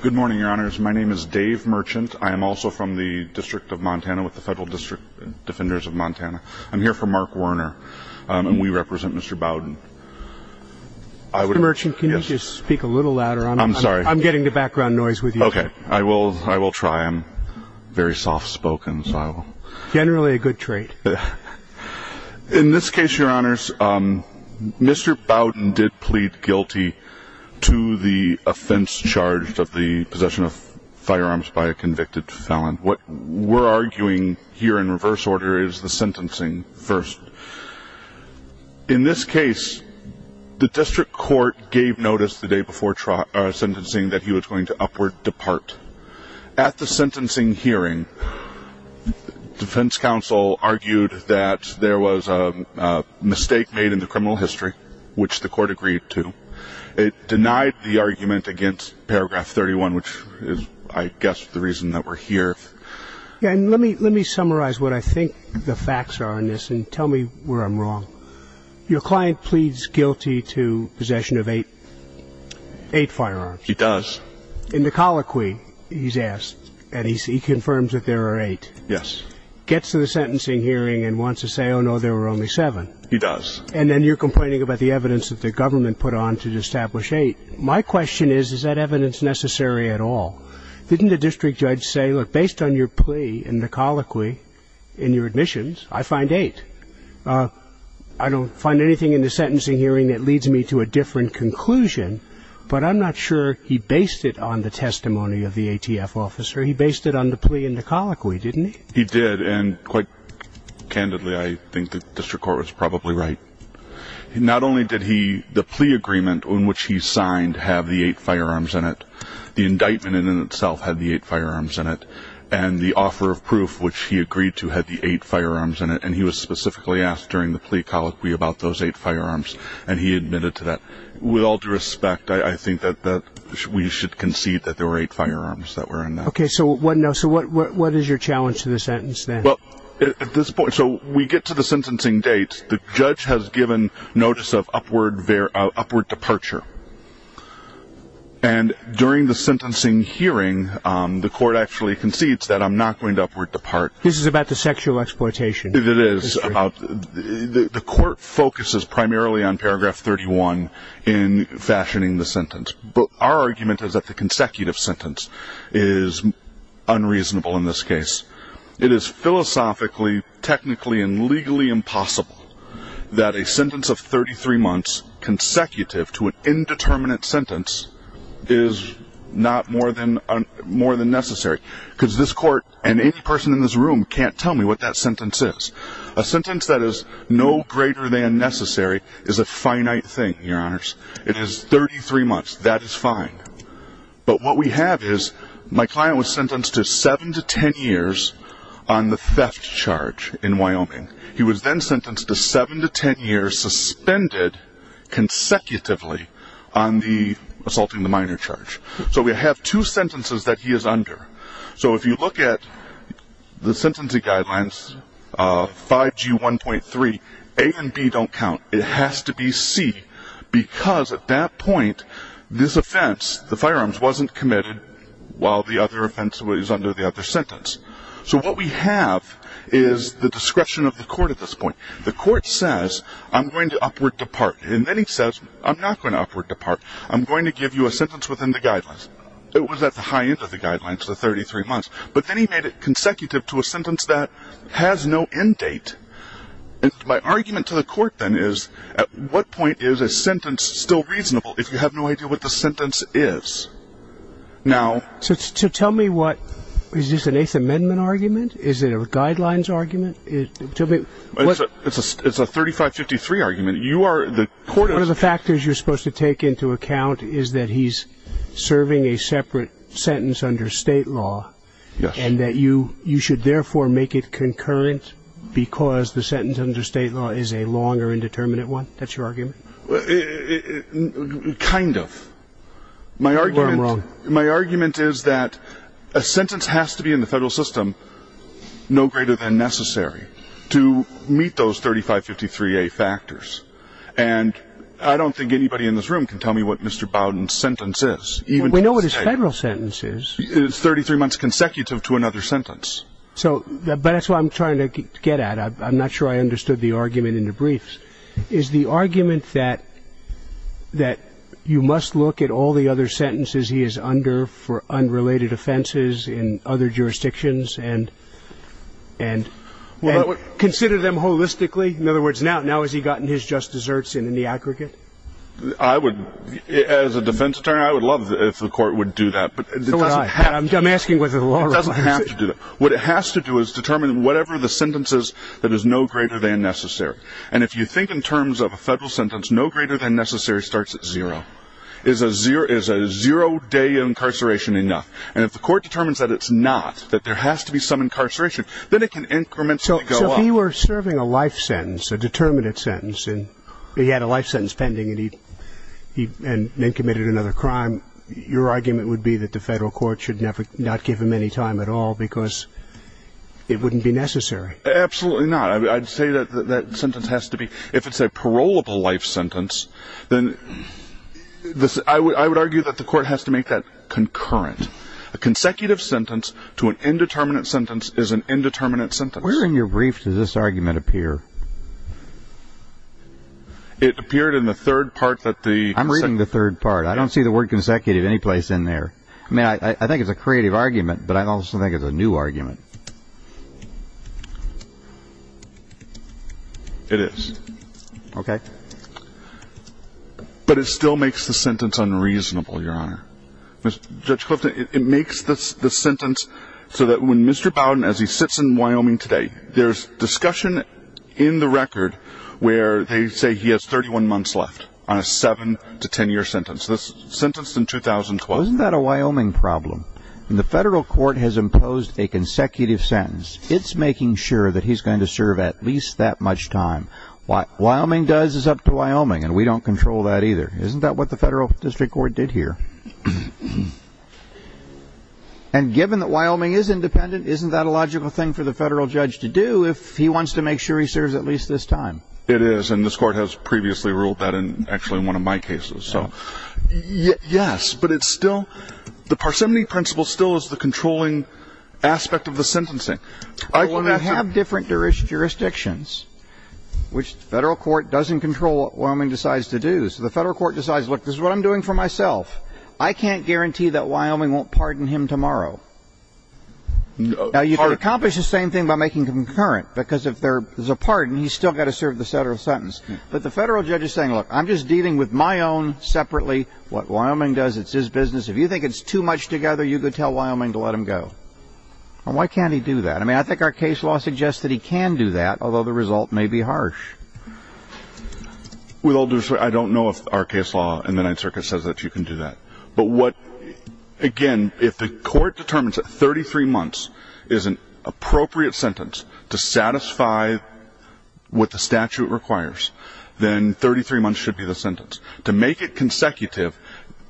Good morning, your honors. My name is Dave Merchant. I am also from the District of Montana with the Federal District Defenders of Montana. I'm here for Mark Werner, and we represent Mr. Bowden. Mr. Merchant, can you just speak a little louder? I'm sorry. I'm getting the background noise with you. Okay. I will try. I'm very soft-spoken. Generally a good trait. In this case, your honors, Mr. Bowden did plead guilty to the offense charged of the possession of firearms by a convicted felon. What we're arguing here in reverse order is the sentencing first. In this case, the district court gave notice the day before sentencing that he was going to upward depart. At the sentencing hearing, defense counsel argued that there was a mistake made in the criminal history, which the court agreed to. It denied the argument against paragraph 31, which is, I guess, the reason that we're here. Let me summarize what I think the facts are on this and tell me where I'm wrong. Your client pleads guilty to possession of eight firearms. He does. In the colloquy, he's asked, and he confirms that there are eight. Yes. Gets to the sentencing hearing and wants to say, oh, no, there were only seven. He does. And then you're complaining about the evidence that the government put on to establish eight. My question is, is that evidence necessary at all? Didn't the district judge say, look, based on your plea in the colloquy in your admissions, I find eight. I don't find anything in the sentencing hearing that leads me to a different conclusion, but I'm not sure he based it on the testimony of the ATF officer. He based it on the plea in the colloquy, didn't he? He did. And quite candidly, I think the district court was probably right. Not only did the plea agreement on which he signed have the eight firearms in it, the indictment in and of itself had the eight firearms in it, and the offer of proof, which he agreed to, had the eight firearms in it. And he was specifically asked during the plea colloquy about those eight firearms, and he admitted to that. With all due respect, I think that we should concede that there were eight firearms that were in that. Okay. So what is your challenge to the sentence then? Well, at this point, so we get to the sentencing date. The judge has given notice of upward departure. And during the sentencing hearing, the court actually concedes that I'm not going to upward depart. This is about the sexual exploitation. It is. The court focuses primarily on paragraph 31 in fashioning the sentence. Our argument is that the consecutive sentence is unreasonable in this case. It is philosophically, technically, and legally impossible that a sentence of 33 months consecutive to an indeterminate sentence is not more than necessary. Because this court and any person in this room can't tell me what that sentence is. A sentence that is no greater than necessary is a finite thing, Your Honors. It is 33 months. That is fine. But what we have is my client was sentenced to 7 to 10 years on the theft charge in Wyoming. He was then sentenced to 7 to 10 years suspended consecutively on the assaulting the minor charge. So we have two sentences that he is under. So if you look at the sentencing guidelines, 5G1.3, A and B don't count. It has to be C because at that point this offense, the firearms, wasn't committed while the other offense was under the other sentence. So what we have is the discretion of the court at this point. The court says, I'm going to upward depart. And then he says, I'm not going to upward depart. I'm going to give you a sentence within the guidelines. It was at the high end of the guidelines, the 33 months. But then he made it consecutive to a sentence that has no end date. And my argument to the court then is, at what point is a sentence still reasonable if you have no idea what the sentence is? So tell me what, is this an Eighth Amendment argument? Is it a guidelines argument? It's a 3553 argument. One of the factors you're supposed to take into account is that he's serving a separate sentence under state law. And that you should therefore make it concurrent because the sentence under state law is a longer indeterminate one? That's your argument? Kind of. My argument is that a sentence has to be in the federal system, no greater than necessary, to meet those 3553A factors. And I don't think anybody in this room can tell me what Mr. Bowden's sentence is. We know what his federal sentence is. It's 33 months consecutive to another sentence. But that's what I'm trying to get at. I'm not sure I understood the argument in the briefs. Is the argument that you must look at all the other sentences he is under for unrelated offenses in other jurisdictions and consider them holistically? In other words, now has he gotten his just deserts in the aggregate? As a defense attorney, I would love if the court would do that. I'm asking whether the law requires it. It doesn't have to do that. What it has to do is determine whatever the sentence is that is no greater than necessary. And if you think in terms of a federal sentence, no greater than necessary starts at zero. Is a zero-day incarceration enough? And if the court determines that it's not, that there has to be some incarceration, then it can incrementally go up. So if he were serving a life sentence, a determinate sentence, and he had a life sentence pending and he committed another crime, your argument would be that the federal court should not give him any time at all because it wouldn't be necessary. Absolutely not. I'd say that that sentence has to be, if it's a parolable life sentence, then I would argue that the court has to make that concurrent. A consecutive sentence to an indeterminate sentence is an indeterminate sentence. Where in your brief does this argument appear? It appeared in the third part that the- I'm reading the third part. I don't see the word consecutive any place in there. I mean, I think it's a creative argument, but I also think it's a new argument. It is. Okay. But it still makes the sentence unreasonable, Your Honor. Judge Clifton, it makes the sentence so that when Mr. Bowden, as he sits in Wyoming today, there's discussion in the record where they say he has 31 months left on a 7-10 year sentence. This was sentenced in 2012. Isn't that a Wyoming problem? The federal court has imposed a consecutive sentence. It's making sure that he's going to serve at least that much time. What Wyoming does is up to Wyoming, and we don't control that either. Isn't that what the federal district court did here? And given that Wyoming is independent, isn't that a logical thing for the federal judge to do if he wants to make sure he serves at least this time? It is, and this court has previously ruled that in actually one of my cases. So, yes, but it's still-the parsimony principle still is the controlling aspect of the sentencing. I have different jurisdictions, which the federal court doesn't control what Wyoming decides to do. So the federal court decides, look, this is what I'm doing for myself. I can't guarantee that Wyoming won't pardon him tomorrow. Now, you can accomplish the same thing by making concurrent, because if there's a pardon, he's still got to serve the federal sentence. But the federal judge is saying, look, I'm just dealing with my own separately. What Wyoming does, it's his business. If you think it's too much together, you can tell Wyoming to let him go. And why can't he do that? I mean, I think our case law suggests that he can do that, although the result may be harsh. With all due respect, I don't know if our case law in the Ninth Circuit says that you can do that. But what-again, if the court determines that 33 months is an appropriate sentence to satisfy what the statute requires, then 33 months should be the sentence. To make it consecutive,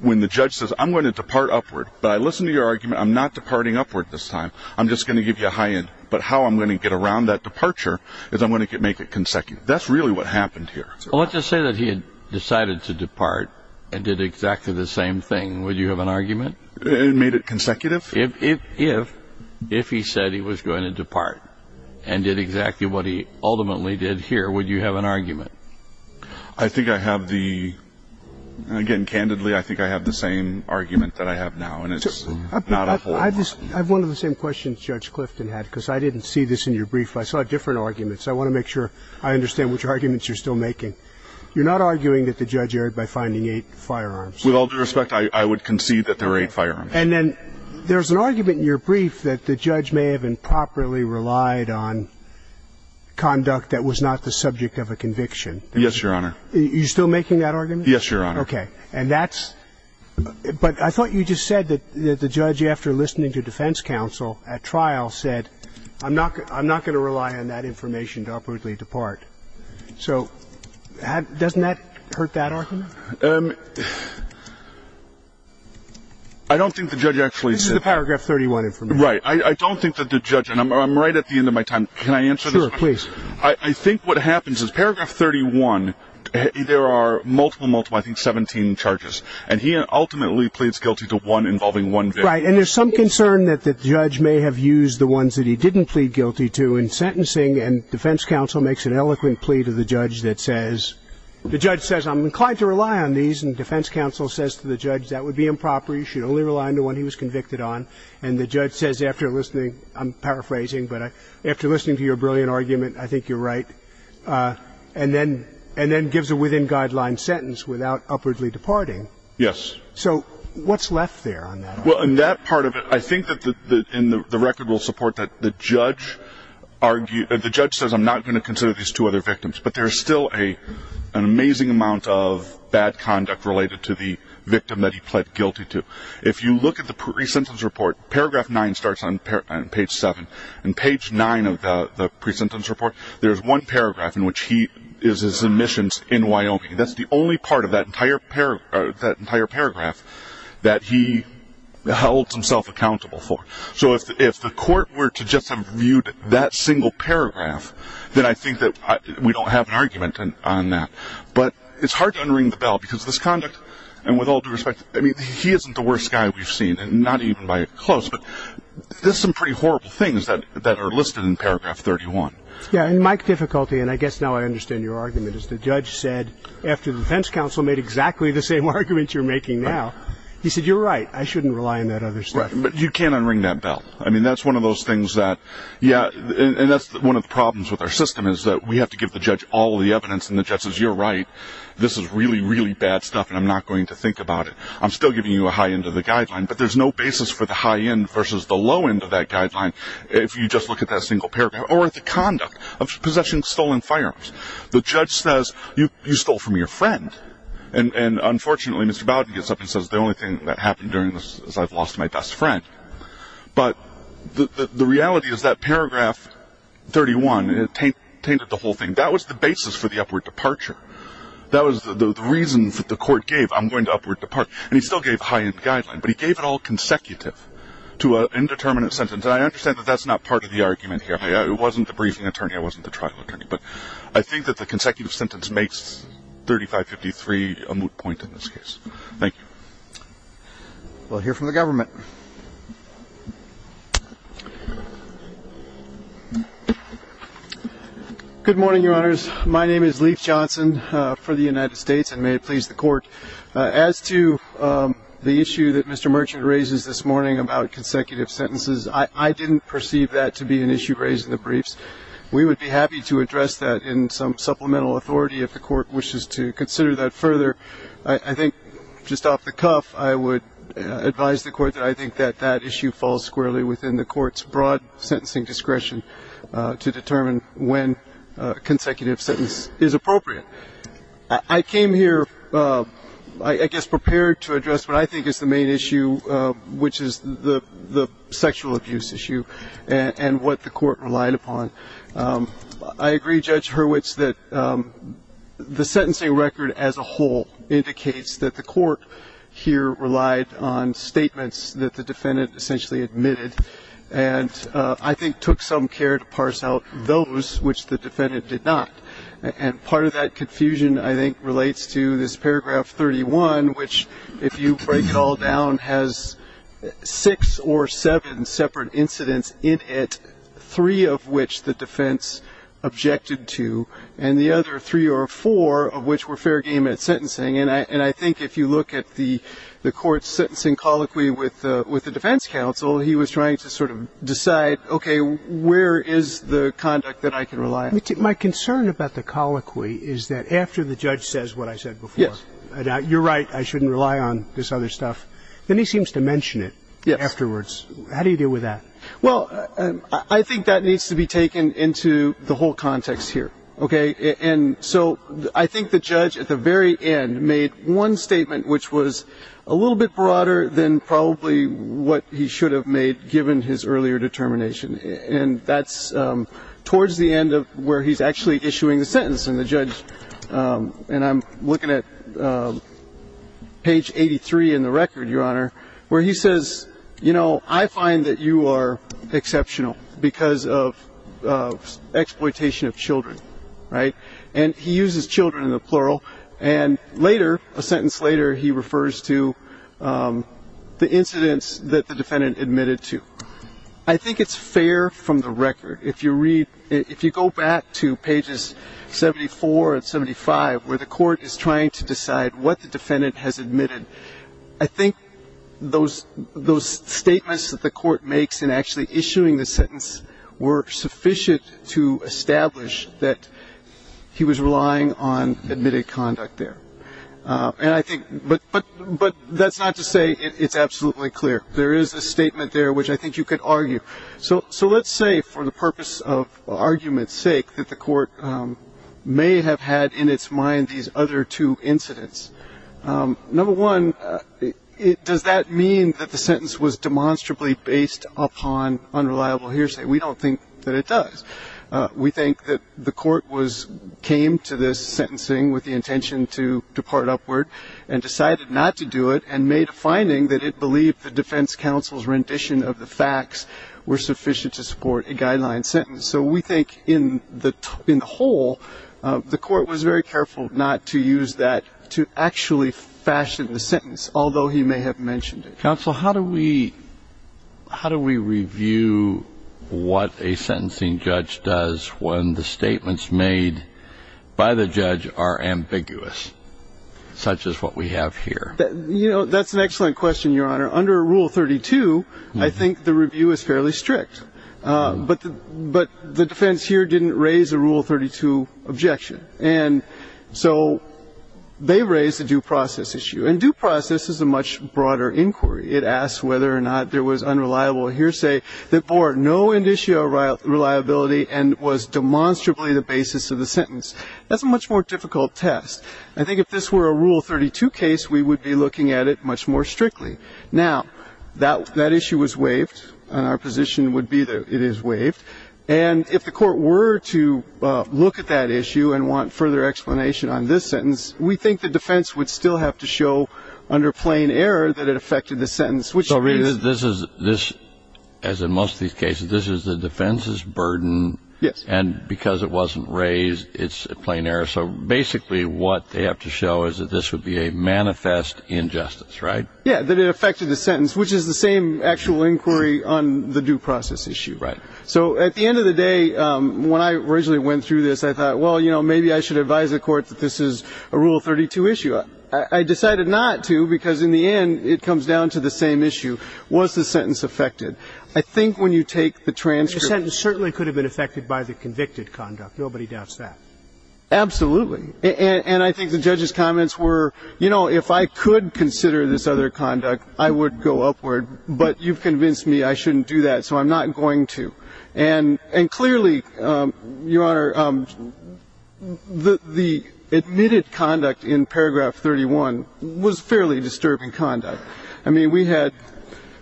when the judge says, I'm going to depart upward, but I listened to your argument, I'm not departing upward this time, I'm just going to give you a high end. But how I'm going to get around that departure is I'm going to make it consecutive. That's really what happened here. Well, let's just say that he had decided to depart and did exactly the same thing. Would you have an argument? And made it consecutive? If he said he was going to depart and did exactly what he ultimately did here, would you have an argument? I think I have the-again, candidly, I think I have the same argument that I have now, and it's not a whole lot. I have one of the same questions Judge Clifton had, because I didn't see this in your brief. I saw different arguments. I want to make sure I understand which arguments you're still making. You're not arguing that the judge erred by finding eight firearms. With all due respect, I would concede that there were eight firearms. And then there's an argument in your brief that the judge may have improperly relied on conduct that was not the subject of a conviction. Yes, Your Honor. Are you still making that argument? Yes, Your Honor. Okay. And that's-but I thought you just said that the judge, after listening to defense counsel at trial, said, I'm not going to rely on that information to abruptly depart. So doesn't that hurt that argument? I don't think the judge actually said- This is the paragraph 31 information. Right. I don't think that the judge-and I'm right at the end of my time. Can I answer this question? Sure, please. I think what happens is paragraph 31, there are multiple, multiple, I think 17 charges. And he ultimately pleads guilty to one involving one victim. Right. And there's some concern that the judge may have used the ones that he didn't plead guilty to in sentencing. And defense counsel makes an eloquent plea to the judge that says-the judge says, I'm inclined to rely on these. And defense counsel says to the judge, that would be improper. You should only rely on the one he was convicted on. And the judge says, after listening-I'm paraphrasing, but after listening to your brilliant argument, I think you're right. And then gives a within-guideline sentence without abruptly departing. Yes. So what's left there on that argument? Well, on that part of it, I think that the record will support that the judge says, I'm not going to consider these two other victims. But there's still an amazing amount of bad conduct related to the victim that he pled guilty to. If you look at the pre-sentence report, paragraph 9 starts on page 7. And page 9 of the pre-sentence report, there's one paragraph in which he is his admissions in Wyoming. That's the only part of that entire paragraph that he held himself accountable for. So if the court were to just have viewed that single paragraph, then I think that we don't have an argument on that. But it's hard to unring the bell because this conduct, and with all due respect, I mean, he isn't the worst guy we've seen, and not even by close, but there's some pretty horrible things that are listed in paragraph 31. Yeah, and my difficulty, and I guess now I understand your argument, is the judge said, after the defense counsel made exactly the same argument you're making now, he said, you're right, I shouldn't rely on that other stuff. Right, but you can't unring that bell. I mean, that's one of those things that, yeah, and that's one of the problems with our system, is that we have to give the judge all the evidence, and the judge says, you're right, this is really, really bad stuff, and I'm not going to think about it. I'm still giving you a high end of the guideline, but there's no basis for the high end versus the low end of that guideline, if you just look at that single paragraph, or at the conduct of possessing stolen firearms. The judge says, you stole from your friend, and unfortunately Mr. Bowden gets up and says, the only thing that happened during this is I've lost my best friend. But the reality is that paragraph 31, it tainted the whole thing. That was the basis for the upward departure. That was the reason that the court gave, I'm going to upward depart, and he still gave high end guideline, but he gave it all consecutive to an indeterminate sentence, and I understand that that's not part of the argument here. I wasn't the briefing attorney, I wasn't the trial attorney, but I think that the consecutive sentence makes 3553 a moot point in this case. Thank you. We'll hear from the government. Good morning, Your Honors. My name is Leif Johnson for the United States, and may it please the court. As to the issue that Mr. Merchant raises this morning about consecutive sentences, I didn't perceive that to be an issue raised in the briefs. We would be happy to address that in some supplemental authority if the court wishes to consider that further. I think just off the cuff I would advise the court that I think that that issue falls squarely within the court's broad sentencing discretion to determine when consecutive sentence is appropriate. I came here, I guess, prepared to address what I think is the main issue, which is the sexual abuse issue and what the court relied upon. I agree, Judge Hurwitz, that the sentencing record as a whole indicates that the court here relied on statements that the defendant essentially admitted and I think took some care to parse out those which the defendant did not. And part of that confusion I think relates to this paragraph 31, which if you break it all down has six or seven separate incidents in it, three of which the defense objected to and the other three or four of which were fair game at sentencing. And I think if you look at the court's sentencing colloquy with the defense counsel, he was trying to sort of decide, okay, where is the conduct that I can rely on? My concern about the colloquy is that after the judge says what I said before, you're right, I shouldn't rely on this other stuff, then he seems to mention it afterwards. Yes. How do you deal with that? Well, I think that needs to be taken into the whole context here. Okay? And so I think the judge at the very end made one statement which was a little bit broader than probably what he should have made given his earlier determination. And that's towards the end of where he's actually issuing the sentence and the judge, and I'm looking at page 83 in the record, Your Honor, where he says, you know, I find that you are exceptional because of exploitation of children, right? And he uses children in the plural, and later, a sentence later, he refers to the incidents that the defendant admitted to. I think it's fair from the record. If you go back to pages 74 and 75 where the court is trying to decide what the defendant has admitted, I think those statements that the court makes in actually issuing the sentence were sufficient to establish that he was relying on admitted conduct there. But that's not to say it's absolutely clear. There is a statement there which I think you could argue. So let's say, for the purpose of argument's sake, that the court may have had in its mind these other two incidents. Number one, does that mean that the sentence was demonstrably based upon unreliable hearsay? We don't think that it does. We think that the court came to this sentencing with the intention to depart upward and decided not to do it and made a finding that it believed the defense counsel's rendition of the facts were sufficient to support a guideline sentence. So we think in the whole, the court was very careful not to use that to actually fashion the sentence, although he may have mentioned it. Counsel, how do we review what a sentencing judge does when the statements made by the judge are ambiguous, such as what we have here? That's an excellent question, Your Honor. Under Rule 32, I think the review is fairly strict. But the defense here didn't raise a Rule 32 objection. And so they raised a due process issue. And due process is a much broader inquiry. It asks whether or not there was unreliable hearsay that bore no initial reliability and was demonstrably the basis of the sentence. That's a much more difficult test. I think if this were a Rule 32 case, we would be looking at it much more strictly. Now, that issue was waived, and our position would be that it is waived. And if the court were to look at that issue and want further explanation on this sentence, we think the defense would still have to show under plain error that it affected the sentence. So this is, as in most of these cases, this is the defense's burden. And because it wasn't raised, it's a plain error. So basically what they have to show is that this would be a manifest injustice, right? Yeah, that it affected the sentence, which is the same actual inquiry on the due process issue, right? So at the end of the day, when I originally went through this, I thought, well, you know, maybe I should advise the court that this is a Rule 32 issue. I decided not to because, in the end, it comes down to the same issue. Was the sentence affected? I think when you take the transcript. The sentence certainly could have been affected by the convicted conduct. Nobody doubts that. Absolutely. And I think the judge's comments were, you know, if I could consider this other conduct, I would go upward, but you've convinced me I shouldn't do that, so I'm not going to. And clearly, Your Honor, the admitted conduct in paragraph 31 was fairly disturbing conduct. I mean, we had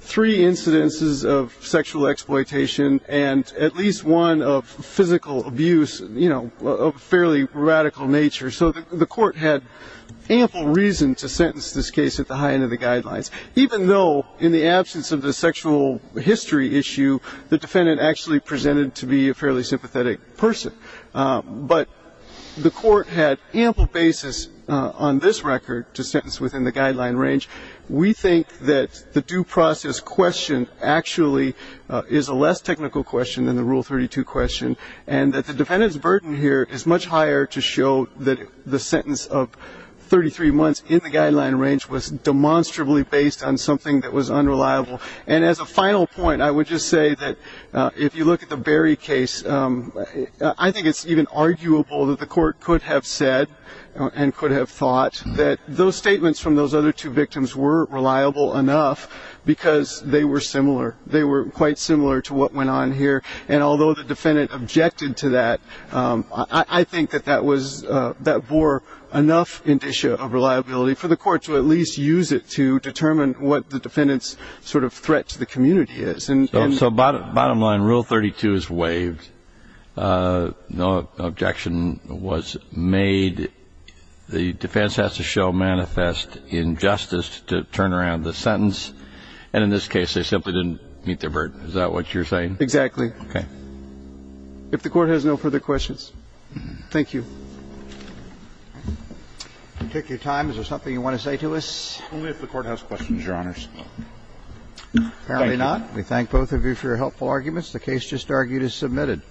three incidences of sexual exploitation and at least one of physical abuse, you know, of a fairly radical nature. So the court had ample reason to sentence this case at the high end of the guidelines, even though in the absence of the sexual history issue, the defendant actually presented to be a fairly sympathetic person. But the court had ample basis on this record to sentence within the guideline range. We think that the due process question actually is a less technical question than the Rule 32 question and that the defendant's burden here is much higher to show that the sentence of 33 months in the guideline range was demonstrably based on something that was unreliable. And as a final point, I would just say that if you look at the Berry case, I think it's even arguable that the court could have said and could have thought that those statements from those other two victims were reliable enough because they were similar. They were quite similar to what went on here. And although the defendant objected to that, I think that that bore enough indicia of reliability for the court to at least use it to determine what the defendant's sort of threat to the community is. So bottom line, Rule 32 is waived. No objection was made. The defense has to show manifest injustice to turn around the sentence. And in this case, they simply didn't meet their burden. Is that what you're saying? Exactly. Okay. If the Court has no further questions, thank you. I'll take your time. Is there something you want to say to us? Only if the Court has questions, Your Honors. Apparently not. We thank both of you for your helpful arguments. The case just argued is submitted.